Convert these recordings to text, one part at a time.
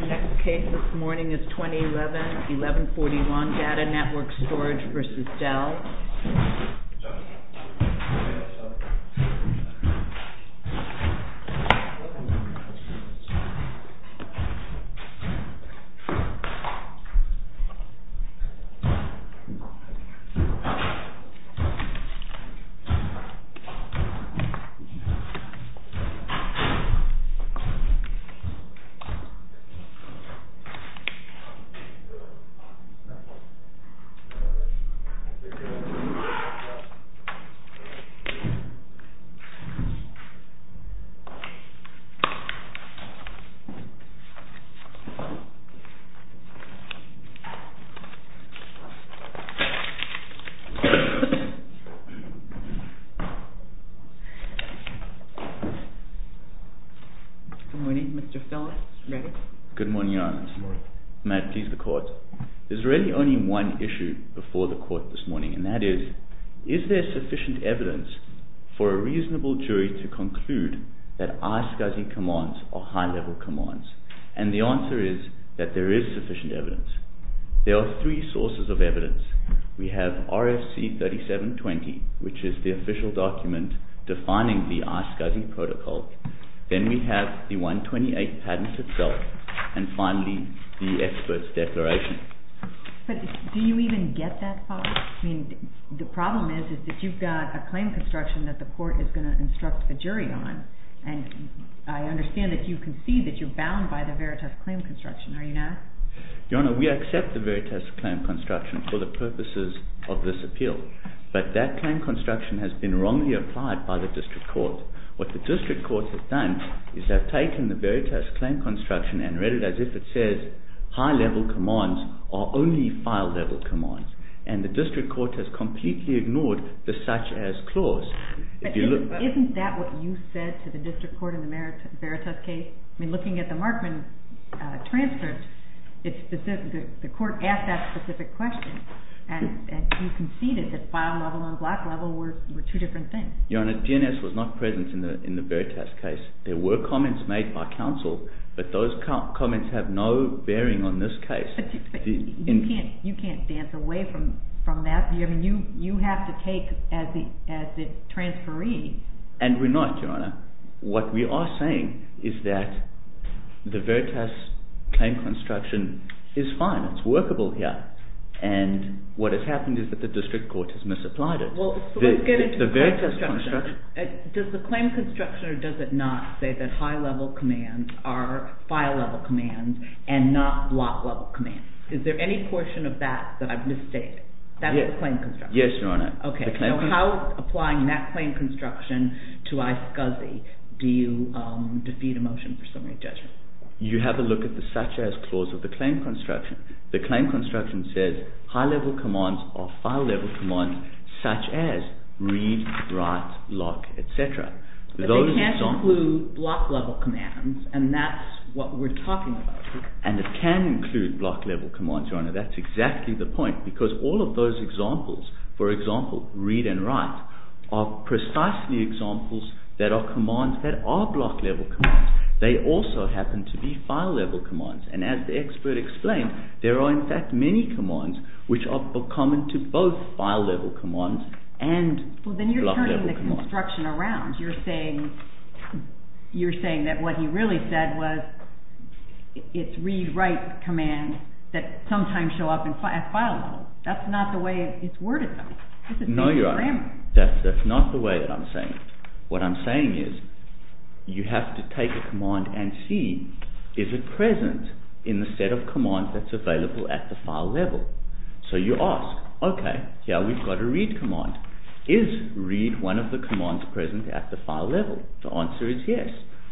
The next case this morning is 2011-1141, DATA NETWORK STORAGE v. DELL. DATA NETWORK STORAGE v. DELL. Good morning, Your Honor. Good morning. May it please the Court. There's really only one issue before the Court this morning, and that is, is there sufficient evidence for a reasonable jury to conclude that iSCSI commands are high-level commands? And the answer is that there is sufficient evidence. There are three sources of evidence. We have RFC 3720, which is the official document defining the iSCSI protocol. Then we have the 128 patent itself, and finally the expert's declaration. But do you even get that far? I mean, the problem is that you've got a claim construction that the Court is going to instruct the jury on, and I understand that you concede that you're bound by the Veritas claim construction, are you not? Your Honor, we accept the Veritas claim construction for the purposes of this appeal, but that claim construction has been wrongly applied by the district court. What the district court has done is have taken the Veritas claim construction and read it as if it says high-level commands are only file-level commands, and the district court has completely ignored the such-as clause. Isn't that what you said to the district court in the Veritas case? I mean, looking at the Markman transfer, the court asked that specific question, and you conceded that file-level and block-level were two different things. Your Honor, GNS was not present in the Veritas case. There were comments made by counsel, but those comments have no bearing on this case. You can't dance away from that. I mean, you have to take as the transferee. And we're not, Your Honor. What we are saying is that the Veritas claim construction is fine, it's workable here, and what has happened is that the district court has misapplied it. Well, let's get into the claim construction. Does the claim construction or does it not say that high-level commands are file-level commands and not block-level commands? Is there any portion of that that I've misstated? That's the claim construction? Yes, Your Honor. Okay. So how, applying that claim construction to iSCSI, do you defeat a motion for summary judgment? You have a look at the such-as clause of the claim construction. The claim construction says high-level commands are file-level commands such as read, write, lock, etc. But they can't include block-level commands, and that's what we're talking about. And it can include block-level commands, Your Honor. That's exactly the point because all of those examples, for example, read and write, are precisely examples that are commands that are block-level commands. They also happen to be file-level commands. And as the expert explained, there are, in fact, many commands which are common to both file-level commands and block-level commands. Well, then you're turning the construction around. You're saying that what he really said was it's read, write commands that sometimes show up at file-level. That's not the way it's worded, though. No, Your Honor. That's not the way that I'm saying it. What I'm saying is you have to take a command and see is it present in the set of commands that's available at the file-level. So you ask, OK, yeah, we've got a read command. Is read one of the commands present at the file-level? The answer is yes.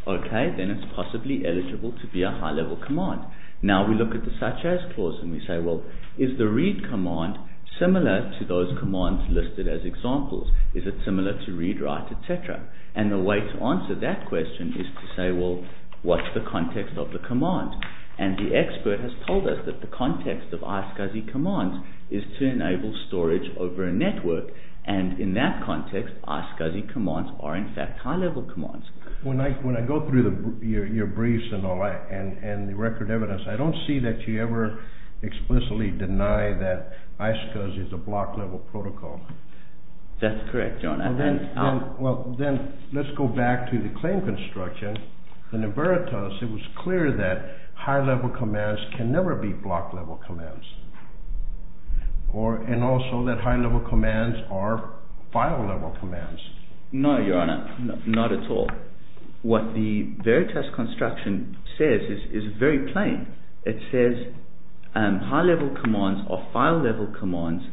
OK, then it's possibly eligible to be a high-level command. Now we look at the such-as clause and we say, well, is the read command similar to those commands listed as examples? Is it similar to read, write, etc.? And the way to answer that question is to say, well, what's the context of the command? And the expert has told us that the context of iSCSI commands is to enable storage over a network. And in that context, iSCSI commands are, in fact, high-level commands. When I go through your briefs and the record evidence, I don't see that you ever explicitly deny that iSCSI is a block-level protocol. That's correct, Your Honor. Well, then let's go back to the claim construction. And in Veritas, it was clear that high-level commands can never be block-level commands. And also that high-level commands are file-level commands. No, Your Honor, not at all. What the Veritas construction says is very plain. It says high-level commands are file-level commands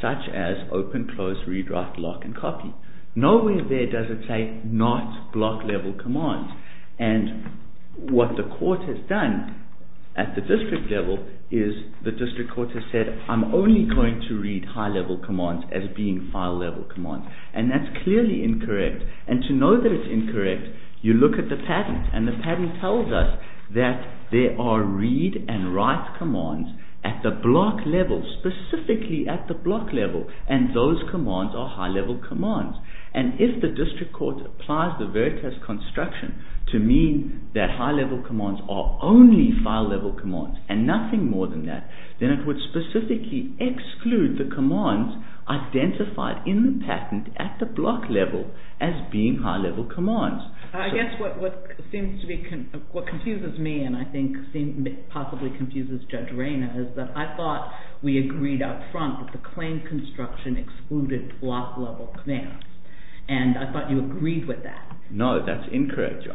such as open, close, read, write, block, and copy. Nowhere there does it say not block-level commands. And what the court has done at the district level is the district court has said, I'm only going to read high-level commands as being file-level commands. And that's clearly incorrect. And to know that it's incorrect, you look at the patent. And the patent tells us that there are read and write commands at the block level, specifically at the block level. And those commands are high-level commands. And if the district court applies the Veritas construction to mean that high-level commands are only file-level commands and nothing more than that, then it would specifically exclude the commands identified in the patent at the block level as being high-level commands. I guess what confuses me and I think possibly confuses Judge Reyna is that I thought we agreed up front that the claim construction excluded block-level commands. And I thought you agreed with that. No, that's incorrect, Your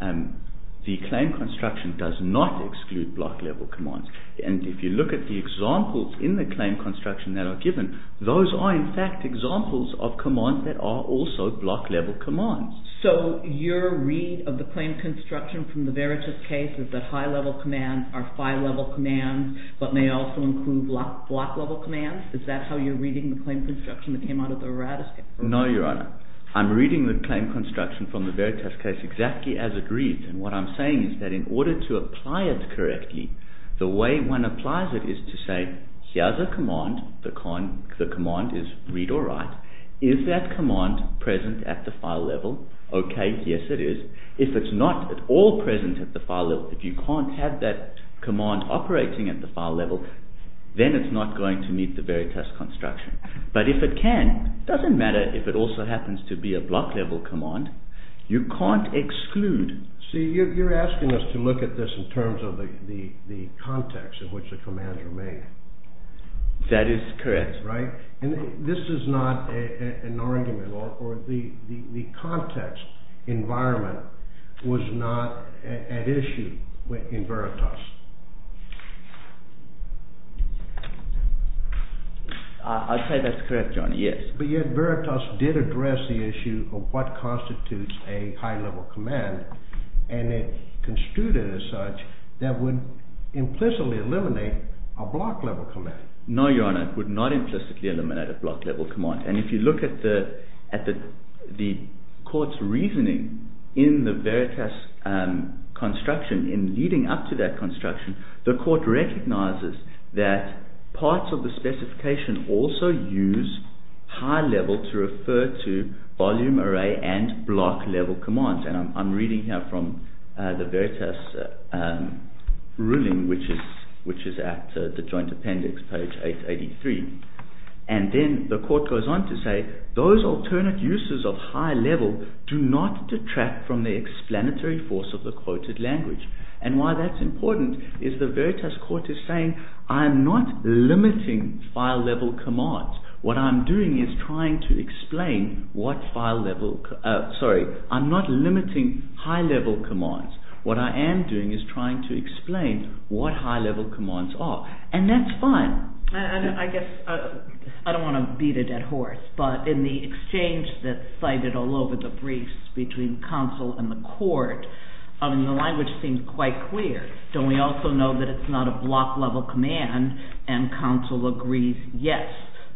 Honor. The claim construction does not exclude block-level commands. And if you look at the examples in the claim construction that are given, those are in fact examples of commands that are also block-level commands. So your read of the claim construction from the Veritas case is that high-level commands are file-level commands but may also include block-level commands? Is that how you're reading the claim construction that came out of the Veritas case? No, Your Honor. I'm reading the claim construction from the Veritas case exactly as it reads. And what I'm saying is that in order to apply it correctly, the way one applies it is to say here's a command. The command is read or write. Is that command present at the file level? Okay, yes it is. If it's not at all present at the file level, if you can't have that command operating at the file level, then it's not going to meet the Veritas construction. But if it can, it doesn't matter if it also happens to be a block-level command. You can't exclude. See, you're asking us to look at this in terms of the context in which the commands are made. That is correct. And this is not an argument or the context environment was not at issue in Veritas. I'll say that's correct, Your Honor, yes. But yet Veritas did address the issue of what constitutes a high-level command, and it construed it as such that would implicitly eliminate a block-level command. No, Your Honor, it would not implicitly eliminate a block-level command. And if you look at the court's reasoning in the Veritas construction, in leading up to that construction, the court recognizes that parts of the specification also use high-level to refer to volume array and block-level commands. And I'm reading here from the Veritas ruling, which is at the Joint Appendix, page 883. And then the court goes on to say, those alternate uses of high-level do not detract from the explanatory force of the quoted language. And why that's important is the Veritas court is saying, I'm not limiting high-level commands. What I am doing is trying to explain what high-level commands are. And that's fine. And I guess I don't want to beat a dead horse, but in the exchange that's cited all over the briefs between counsel and the court, the language seems quite clear. Don't we also know that it's not a block-level command? And counsel agrees yes,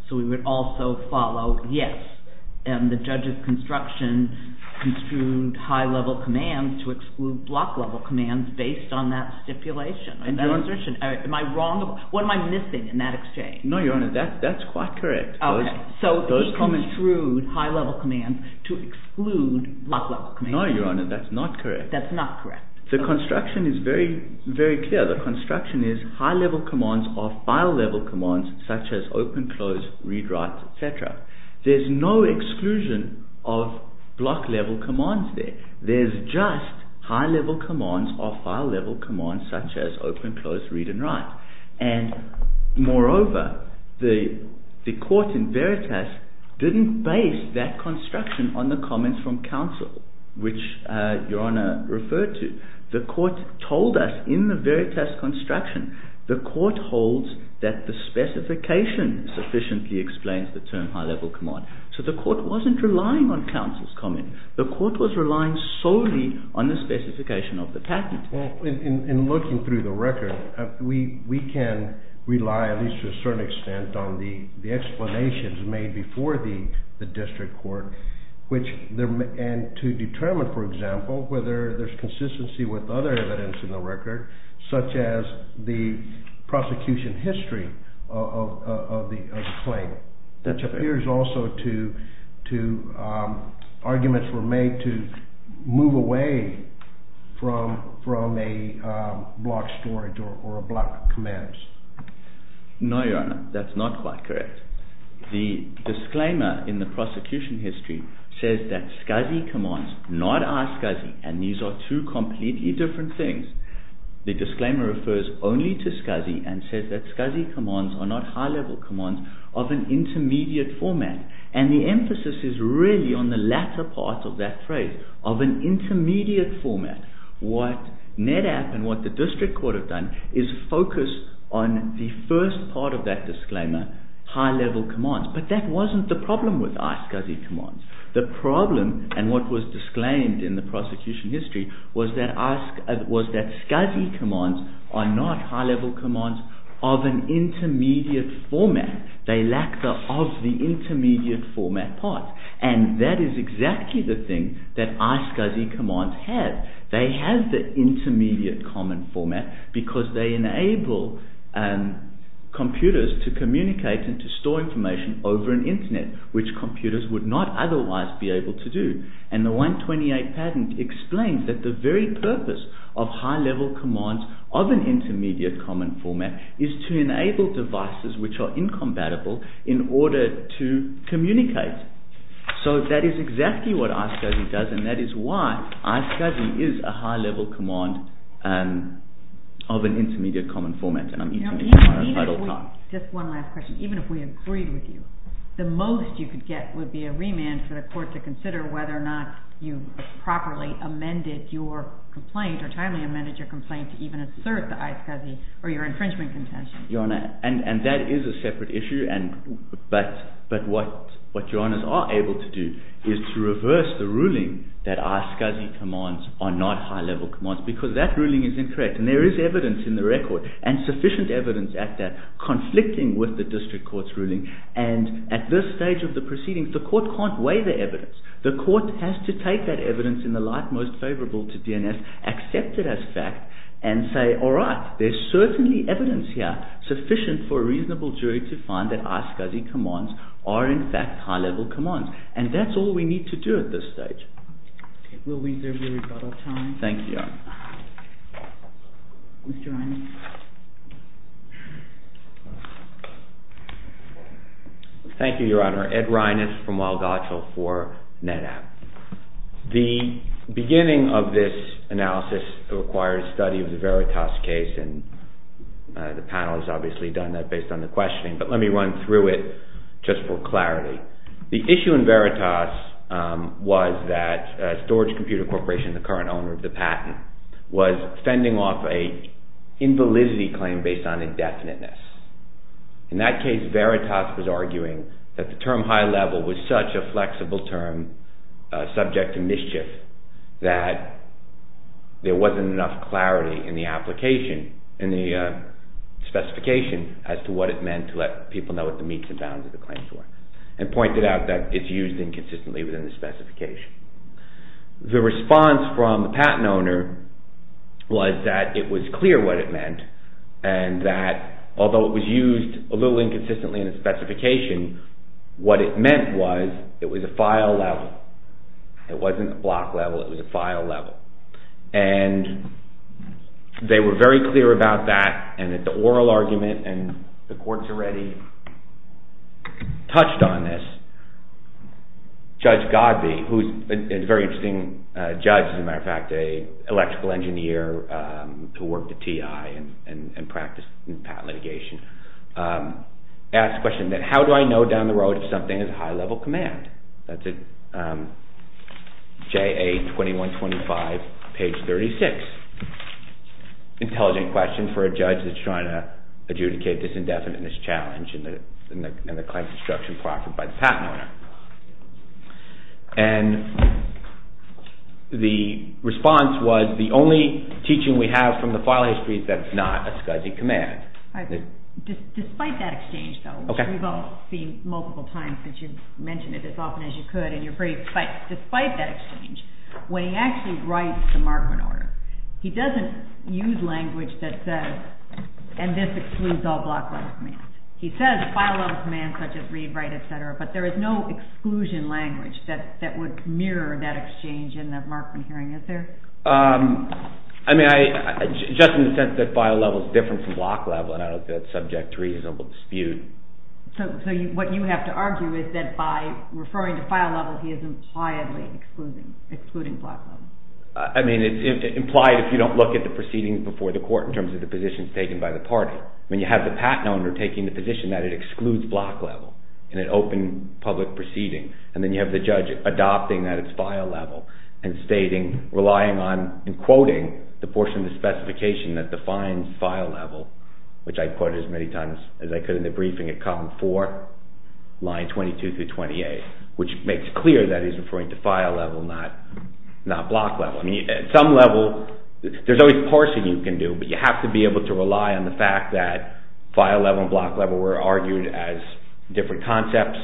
so we would also follow yes. And the judge's construction construed high-level commands to exclude block-level commands based on that stipulation, on that assertion. Am I wrong? What am I missing in that exchange? No, Your Honor, that's quite correct. Okay, so he construed high-level commands to exclude block-level commands. No, Your Honor, that's not correct. That's not correct. The construction is very clear. The construction is high-level commands are file-level commands such as open, close, read, write, etc. There's no exclusion of block-level commands there. There's just high-level commands or file-level commands such as open, close, read, and write. And moreover, the court in Veritas didn't base that construction on the comments from counsel, which Your Honor referred to. The court told us in the Veritas construction, the court holds that the specification sufficiently explains the term high-level command. So the court wasn't relying on counsel's comment. The court was relying solely on the specification of the patent. Well, in looking through the record, we can rely at least to a certain extent on the explanations made before the district court, and to determine, for example, whether there's consistency with other evidence in the record such as the prosecution history of the claim, which appears also to arguments were made to move away from a block storage or block commands. No, Your Honor. That's not quite correct. The disclaimer in the prosecution history says that SCSI commands not are SCSI, and these are two completely different things. The disclaimer refers only to SCSI and says that SCSI commands are not high-level commands of an intermediate format. And the emphasis is really on the latter part of that phrase, of an intermediate format. What NEDAP and what the district court have done is focus on the first part of that disclaimer, high-level commands. But that wasn't the problem with iSCSI commands. The problem, and what was disclaimed in the prosecution history, was that iSCSI commands are not high-level commands of an intermediate format. They lack the of the intermediate format part. And that is exactly the thing that iSCSI commands have. They have the intermediate common format because they enable computers to communicate and to store information over an internet, which computers would not otherwise be able to do. And the 128 patent explains that the very purpose of high-level commands of an intermediate common format is to enable devices which are incompatible in order to communicate. So that is exactly what iSCSI does, and that is why iSCSI is a high-level command of an intermediate common format. Just one last question. Even if we agreed with you, the most you could get would be a remand for the court to consider whether or not you properly amended your complaint or timely amended your complaint to even assert the iSCSI or your infringement contention. And that is a separate issue, but what your Honours are able to do is to reverse the ruling that iSCSI commands are not high-level commands, because that ruling is incorrect. And there is evidence in the record, and sufficient evidence at that, conflicting with the district court's ruling. And at this stage of the proceedings, the court can't weigh the evidence. The court has to take that evidence in the light most favourable to DNS, accept it as fact, and say, all right, there's certainly evidence here sufficient for a reasonable jury to find that iSCSI commands are in fact high-level commands. And that's all we need to do at this stage. Will we reserve your rebuttal time? Thank you, Your Honour. Mr. Reines. Thank you, Your Honour. Ed Reines from Walgottsville for NetApp. The beginning of this analysis requires study of the Veritas case, and the panel has obviously done that based on the questioning, but let me run through it just for clarity. The issue in Veritas was that Storage Computer Corporation, the current owner of the patent, was fending off an invalidity claim based on indefiniteness. In that case, Veritas was arguing that the term high-level was such a flexible term, subject to mischief, that there wasn't enough clarity in the application, in the specification, as to what it meant to let people know what the meets and bounds of the claim were. And pointed out that it's used inconsistently within the specification. The response from the patent owner was that it was clear what it meant, and that although it was used a little inconsistently in the specification, what it meant was it was a file level. It wasn't a block level, it was a file level. And they were very clear about that, and that the oral argument, and the courts already touched on this. Judge Godby, who is a very interesting judge, as a matter of fact, an electrical engineer who worked at TI and practiced in patent litigation, asked the question, how do I know down the road if something is a high-level command? That's at JA2125, page 36. Intelligent question for a judge that's trying to adjudicate this indefiniteness challenge in the claim construction proffer by the patent owner. And the response was, the only teaching we have from the file history is that it's not a scudgy command. Despite that exchange, though, which we've all seen multiple times since you've mentioned it as often as you could, and you're very excited, despite that exchange, when he actually writes the Markman order, he doesn't use language that says, and this excludes all block level commands. He says file level commands such as read, write, etc., but there is no exclusion language that would mirror that exchange in the Markman hearing, is there? I mean, just in the sense that file level is different from block level, and I don't think that's subject to reasonable dispute. So what you have to argue is that by referring to file level, he is impliedly excluding block level? I mean, it's implied if you don't look at the proceedings before the court in terms of the positions taken by the party. When you have the patent owner taking the position that it excludes block level in an open public proceeding, and then you have the judge adopting that it's file level, and stating, relying on, and quoting the portion of the specification that defines file level, which I've quoted as many times as I could in the briefing at column 4, line 22 through 28, which makes clear that he's referring to file level, not block level. I mean, at some level, there's always parsing you can do, but you have to be able to rely on the fact that file level and block level were argued as different concepts.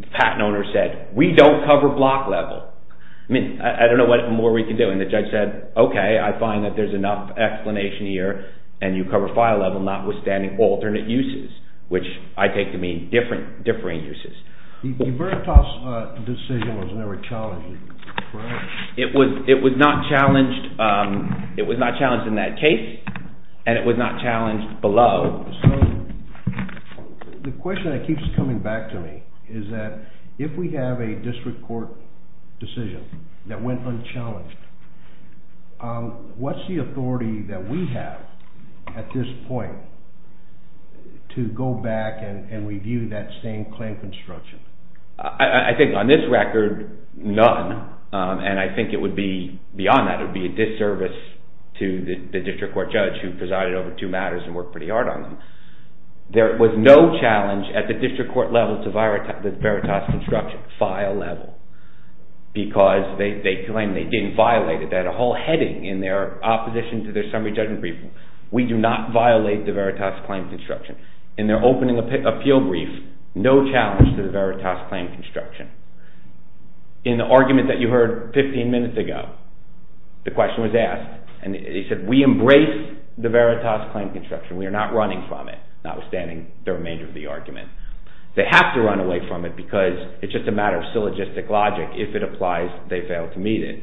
The patent owner said, we don't cover block level. I mean, I don't know what more we can do, and the judge said, okay, I find that there's enough explanation here, and you cover file level notwithstanding alternate uses, which I take to mean differing uses. The Veritas decision was never challenging, correct? It was not challenged in that case, and it was not challenged below. So the question that keeps coming back to me is that if we have a district court decision that went unchallenged, what's the authority that we have at this point to go back and review that same claim construction? I think on this record, none, and I think it would be beyond that. It would be a disservice to the district court judge who presided over two matters and worked pretty hard on them. There was no challenge at the district court level to Veritas construction, file level, because they claim they didn't violate it. They had a whole heading in their opposition to their summary judgment briefing. We do not violate the Veritas claim construction. In their opening appeal brief, no challenge to the Veritas claim construction. In the argument that you heard 15 minutes ago, the question was asked, and he said we embrace the Veritas claim construction. We are not running from it, notwithstanding the remainder of the argument. They have to run away from it because it's just a matter of syllogistic logic. If it applies, they fail to meet it.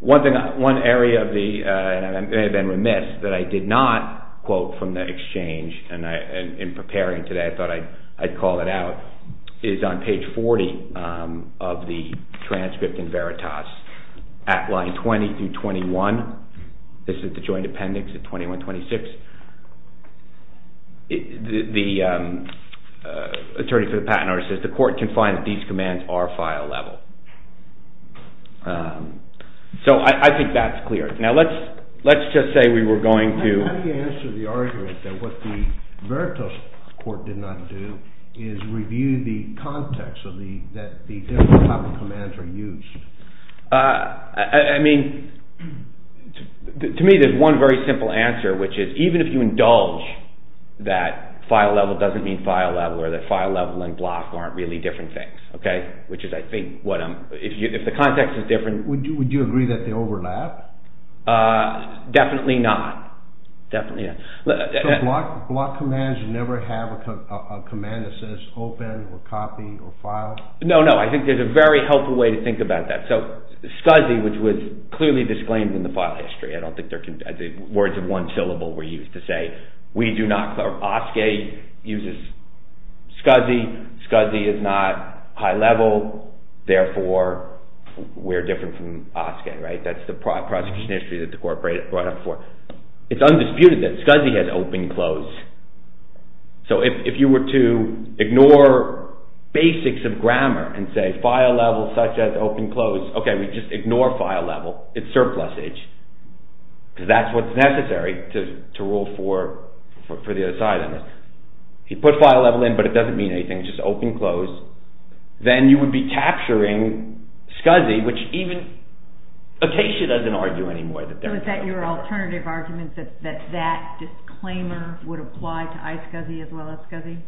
One area of the, and I may have been remiss that I did not quote from the exchange, and in preparing today I thought I'd call it out, is on page 40 of the transcript in Veritas at line 20 through 21. This is the joint appendix at 2126. The attorney for the patent office says the court can find that these commands are file level. So I think that's clear. Now let's just say we were going to. So how do you answer the argument that what the Veritas court did not do is review the context that the different public commands are used? I mean, to me there's one very simple answer, which is even if you indulge that file level doesn't mean file level, or that file level and block aren't really different things, okay, which is I think what I'm, if the context is different. Would you agree that they overlap? Definitely not, definitely not. So block commands never have a command that says open or copy or file? No, no, I think there's a very helpful way to think about that. So SCSI, which was clearly disclaimed in the file history, I don't think they're, words of one syllable were used to say, we do not, OSCE uses SCSI, SCSI is not high level, therefore we're different from OSCE, right? That's the prosecution history that the court brought up before. It's undisputed that SCSI has open-close. So if you were to ignore basics of grammar and say file level such as open-close, okay, we just ignore file level, it's surplusage, because that's what's necessary to rule for the other side on this. You put file level in but it doesn't mean anything, it's just open-close, then you would be capturing SCSI, which even, Acacia doesn't argue anymore. So is that your alternative argument, that that disclaimer would apply to iSCSI as well as SCSI?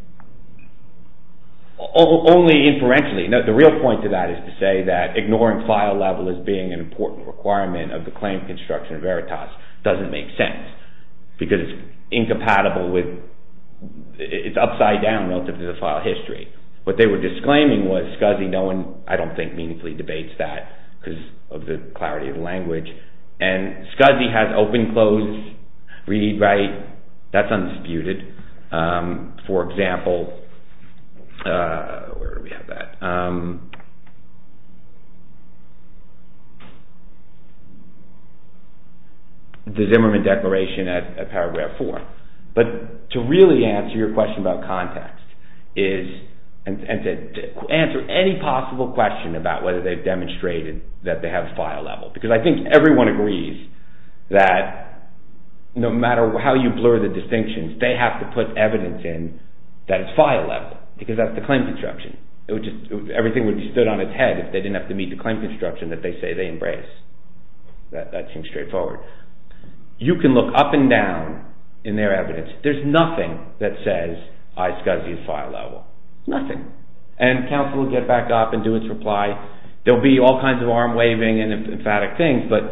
Only inferentially. The real point of that is to say that ignoring file level as being an important requirement of the claim construction of Veritas doesn't make sense, because it's incompatible with, it's upside down relative to the file history. What they were disclaiming was SCSI, no one, I don't think, meaningfully debates that, because of the clarity of language. And SCSI has open-close, read-write, that's undisputed. For example, where do we have that? The Zimmerman Declaration at Paragraph 4. But to really answer your question about context is, and to answer any possible question about whether they've demonstrated that they have file level, because I think everyone agrees that no matter how you blur the distinctions, they have to put evidence in that it's file level, because that's the claim construction. Everything would be stood on its head if they didn't have to meet the claim construction that they say they embrace. That seems straightforward. You can look up and down in their evidence. There's nothing that says iSCSI is file level. Nothing. And counsel will get back up and do its reply. There'll be all kinds of arm-waving and emphatic things, but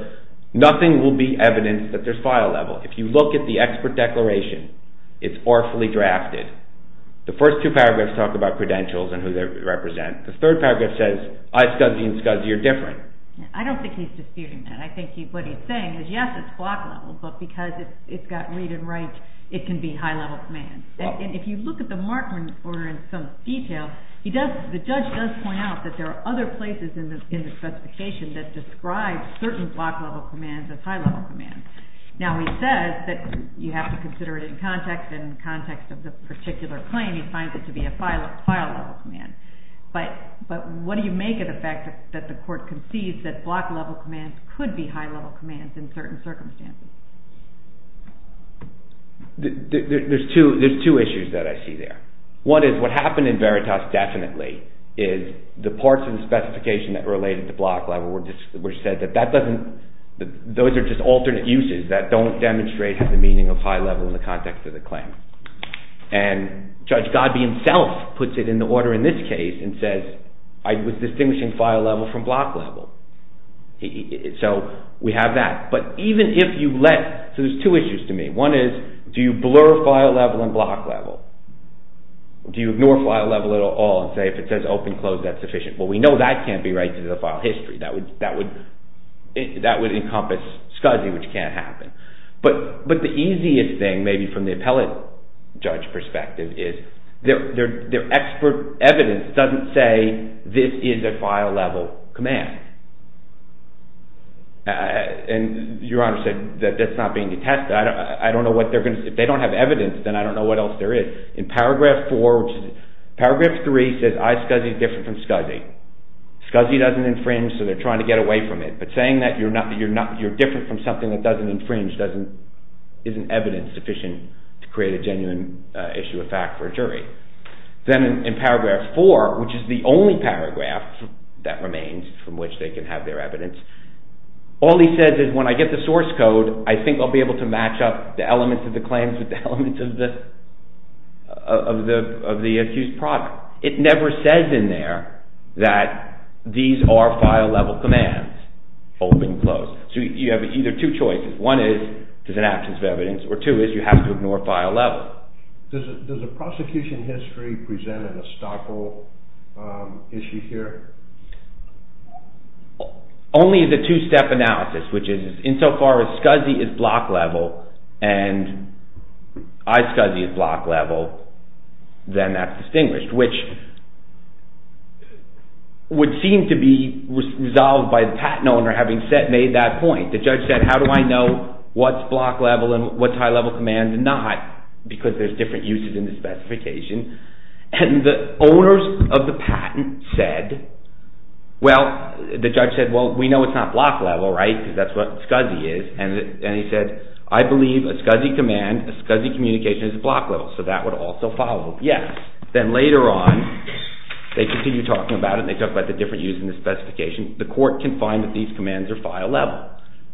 nothing will be evidence that there's file level. If you look at the expert declaration, it's awfully drafted. The first two paragraphs talk about credentials and who they represent. The third paragraph says iSCSI and SCSI are different. I don't think he's disputing that. I think what he's saying is, yes, it's block level, but because it's got read and write, it can be high-level commands. And if you look at the Markman order in some detail, the judge does point out that there are other places in the specification that describe certain block-level commands as high-level commands. Now, he says that you have to consider it in context, and in the context of the particular claim, he finds it to be a file-level command. But what do you make of the fact that the court concedes that block-level commands could be high-level commands in certain circumstances? There's two issues that I see there. One is what happened in Veritas definitely is the parts of the specification that related to block level were said that that doesn't – those are just alternate uses that don't demonstrate the meaning of high-level in the context of the claim. And Judge Godby himself puts it in the order in this case and says, I was distinguishing file-level from block-level. So we have that. But even if you let – so there's two issues to me. One is, do you blur file-level and block-level? Do you ignore file-level at all and say if it says open, close, that's sufficient? Well, we know that can't be right to the file history. That would encompass SCSI, which can't happen. But the easiest thing maybe from the appellate judge perspective is their expert evidence doesn't say this is a file-level command. And Your Honor said that that's not being attested. I don't know what they're going to – if they don't have evidence, then I don't know what else there is. In paragraph four, which is – paragraph three says I, SCSI, is different from SCSI. SCSI doesn't infringe, so they're trying to get away from it. But saying that you're different from something that doesn't infringe isn't evidence sufficient to create a genuine issue of fact for a jury. Then in paragraph four, which is the only paragraph that remains from which they can have their evidence, all he says is when I get the source code, I think I'll be able to match up the elements of the claims with the elements of the accused product. It never says in there that these are file-level commands, open and closed. So you have either two choices. One is there's an absence of evidence, or two is you have to ignore file level. Does the prosecution history present an estoppel issue here? Only the two-step analysis, which is insofar as SCSI is block-level and I, SCSI, is block-level, then that's distinguished. Which would seem to be resolved by the patent owner having made that point. The judge said, how do I know what's block-level and what's high-level command and not, because there's different uses in the specification. And the owners of the patent said, well, the judge said, well, we know it's not block-level, right, because that's what SCSI is. And he said, I believe a SCSI command, a SCSI communication is block-level, so that would also follow. Yes. Then later on, they continue talking about it and they talk about the different uses in the specification. The court can find that these commands are file-level.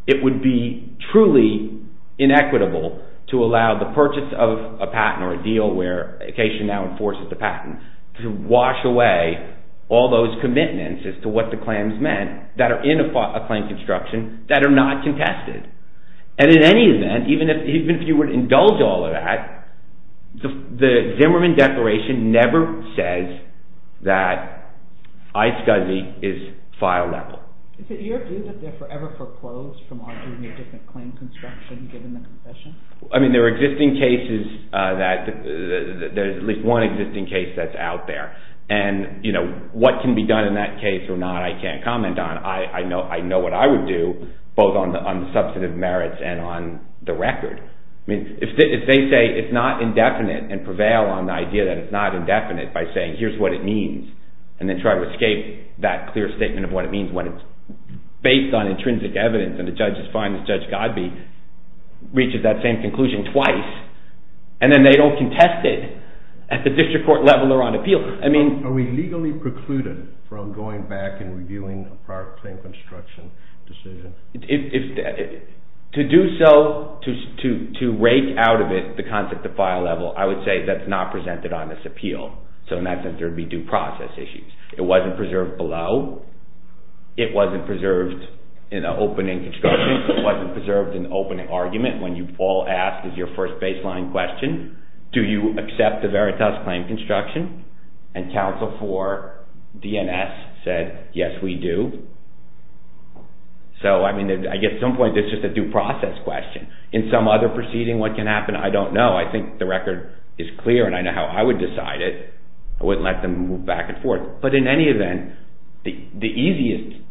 It would be truly inequitable to allow the purchase of a patent or a deal where a case now enforces the patent to wash away all those commitments as to what the claims meant that are in a claim construction that are not contested. And in any event, even if you would indulge all of that, the Zimmerman Declaration never says that iSCSI is file-level. Is it your view that they're forever foreclosed from arguing a different claim construction given the concession? I mean, there are existing cases that, there's at least one existing case that's out there. And, you know, what can be done in that case or not, I can't comment on. I know what I would do, both on the substantive merits and on the record. I mean, if they say it's not indefinite and prevail on the idea that it's not indefinite by saying here's what it means and then try to escape that clear statement of what it means when it's based on intrinsic evidence and the judges find that Judge Godbee reaches that same conclusion twice. And then they don't contest it at the district court level or on appeal. Are we legally precluded from going back and reviewing a prior claim construction decision? To do so, to rake out of it the concept of file-level, I would say that's not presented on this appeal. So in that sense, there would be due process issues. It wasn't preserved below. It wasn't preserved in an opening construction. It wasn't preserved in an opening argument when you all asked as your first baseline question, do you accept the Veritas claim construction? And counsel for DNS said, yes, we do. So I mean, I guess at some point, this is a due process question. In some other proceeding, what can happen? I don't know. I think the record is clear and I know how I would decide it. I wouldn't let them move back and forth. But in any event, the easiest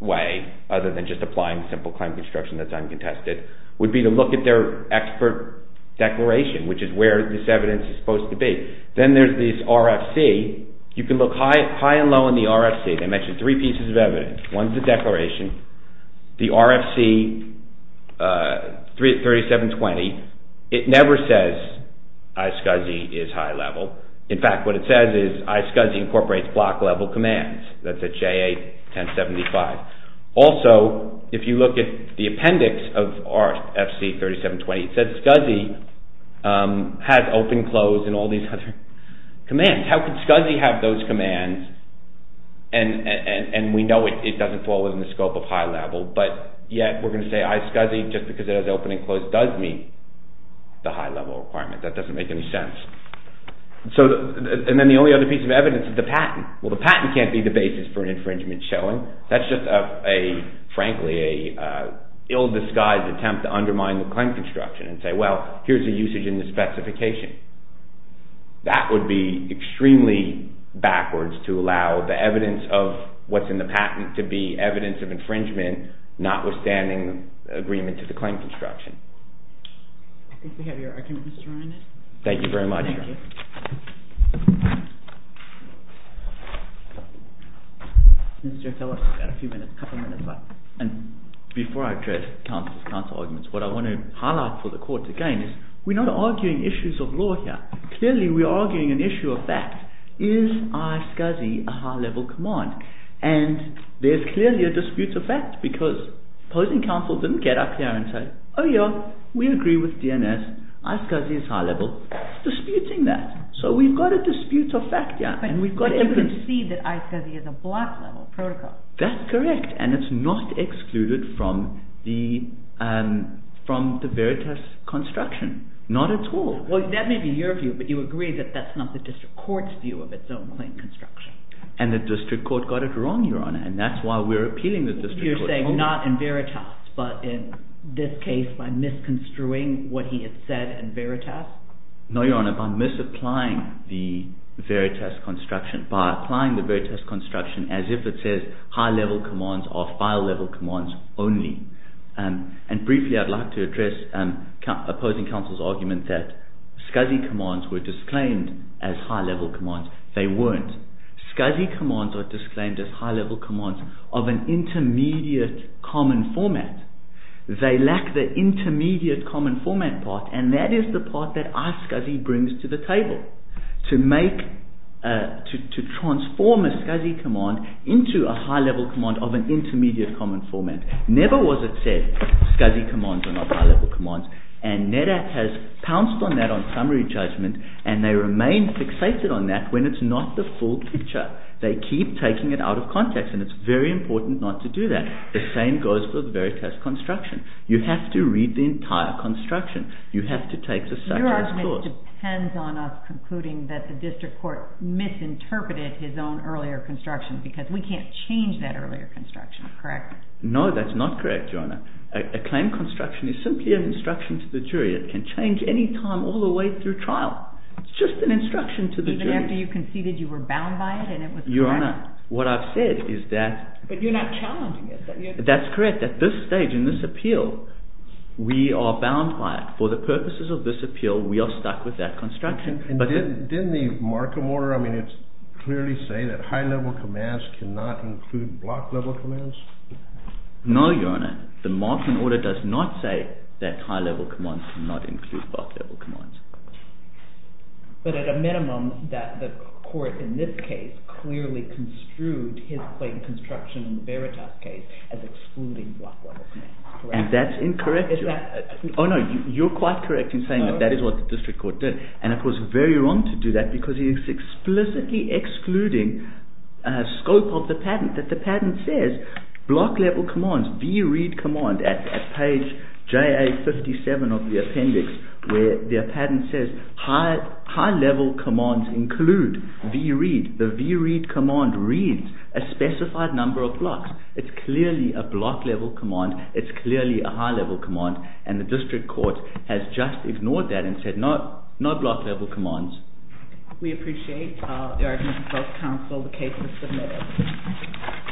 way other than just applying simple claim construction that's uncontested would be to look at their expert declaration, which is where this evidence is supposed to be. Then there's this RFC. You can look high and low in the RFC. They mention three pieces of evidence. One is the declaration, the RFC 3720. It never says iSCSI is high-level. In fact, what it says is iSCSI incorporates block-level commands. That's at J8-1075. Also, if you look at the appendix of RFC 3720, it says SCSI has open, close, and all these other commands. How could SCSI have those commands and we know it doesn't fall within the scope of high-level, but yet we're going to say iSCSI just because it has open and close does meet the high-level requirement. That doesn't make any sense. And then the only other piece of evidence is the patent. Well, the patent can't be the basis for an infringement showing. That's just, frankly, an ill-disguised attempt to undermine the claim construction and say, well, here's the usage in the specification. That would be extremely backwards to allow the evidence of what's in the patent to be evidence of infringement notwithstanding agreement to the claim construction. I think we have your argument, Mr. Reinert. Thank you very much. Thank you. Mr. O'Toole, you've got a few minutes, a couple of minutes left. And before I address counsel's counsel arguments, what I want to highlight for the court, again, is we're not arguing issues of law here. Clearly, we're arguing an issue of fact. Is iSCSI a high-level command? And there's clearly a dispute of fact because opposing counsel didn't get up here and say, oh, yeah, we agree with DNS. iSCSI is high-level. We're disputing that. So we've got a dispute of fact here. But you can see that iSCSI is a block-level protocol. That's correct. And it's not excluded from the Veritas construction, not at all. Well, that may be your view, but you agree that that's not the district court's view of its own claim construction. And the district court got it wrong, Your Honor, and that's why we're appealing the district court. You're saying not in Veritas, but in this case by misconstruing what he had said in Veritas? No, Your Honor, by misapplying the Veritas construction, by applying the Veritas construction as if it says high-level commands are file-level commands only. And briefly, I'd like to address opposing counsel's argument that SCSI commands were disclaimed as high-level commands. They weren't. SCSI commands are disclaimed as high-level commands of an intermediate common format. They lack the intermediate common format part, and that is the part that iSCSI brings to the table, to transform a SCSI command into a high-level command of an intermediate common format. Never was it said SCSI commands are not high-level commands. And NEDAC has pounced on that on summary judgment, and they remain fixated on that when it's not the full picture. They keep taking it out of context, and it's very important not to do that. The same goes for the Veritas construction. You have to read the entire construction. You have to take the subject's course. Your argument depends on us concluding that the district court misinterpreted his own earlier construction, because we can't change that earlier construction, correct? No, that's not correct, Your Honor. A claim construction is simply an instruction to the jury. It can change any time all the way through trial. It's just an instruction to the jury. Even after you conceded you were bound by it and it was correct? Your Honor, what I've said is that— But you're not challenging it. That's correct. At this stage in this appeal, we are bound by it. For the purposes of this appeal, we are stuck with that construction. Didn't the Markham order clearly say that high-level commands cannot include block-level commands? No, Your Honor. The Markham order does not say that high-level commands cannot include block-level commands. But at a minimum, the court in this case clearly construed his claim construction in the Veritas case as excluding block-level commands, correct? And that's incorrect, Your Honor. Oh, no, you're quite correct in saying that that is what the district court did. And it was very wrong to do that because he is explicitly excluding a scope of the patent that the patent says block-level commands, V-read command, at page JA57 of the appendix, where the patent says high-level commands include V-read. The V-read command reads a specified number of blocks. It's clearly a block-level command. It's clearly a high-level command. And the district court has just ignored that and said no block-level commands. We appreciate the arguments of both counsel. The case is submitted.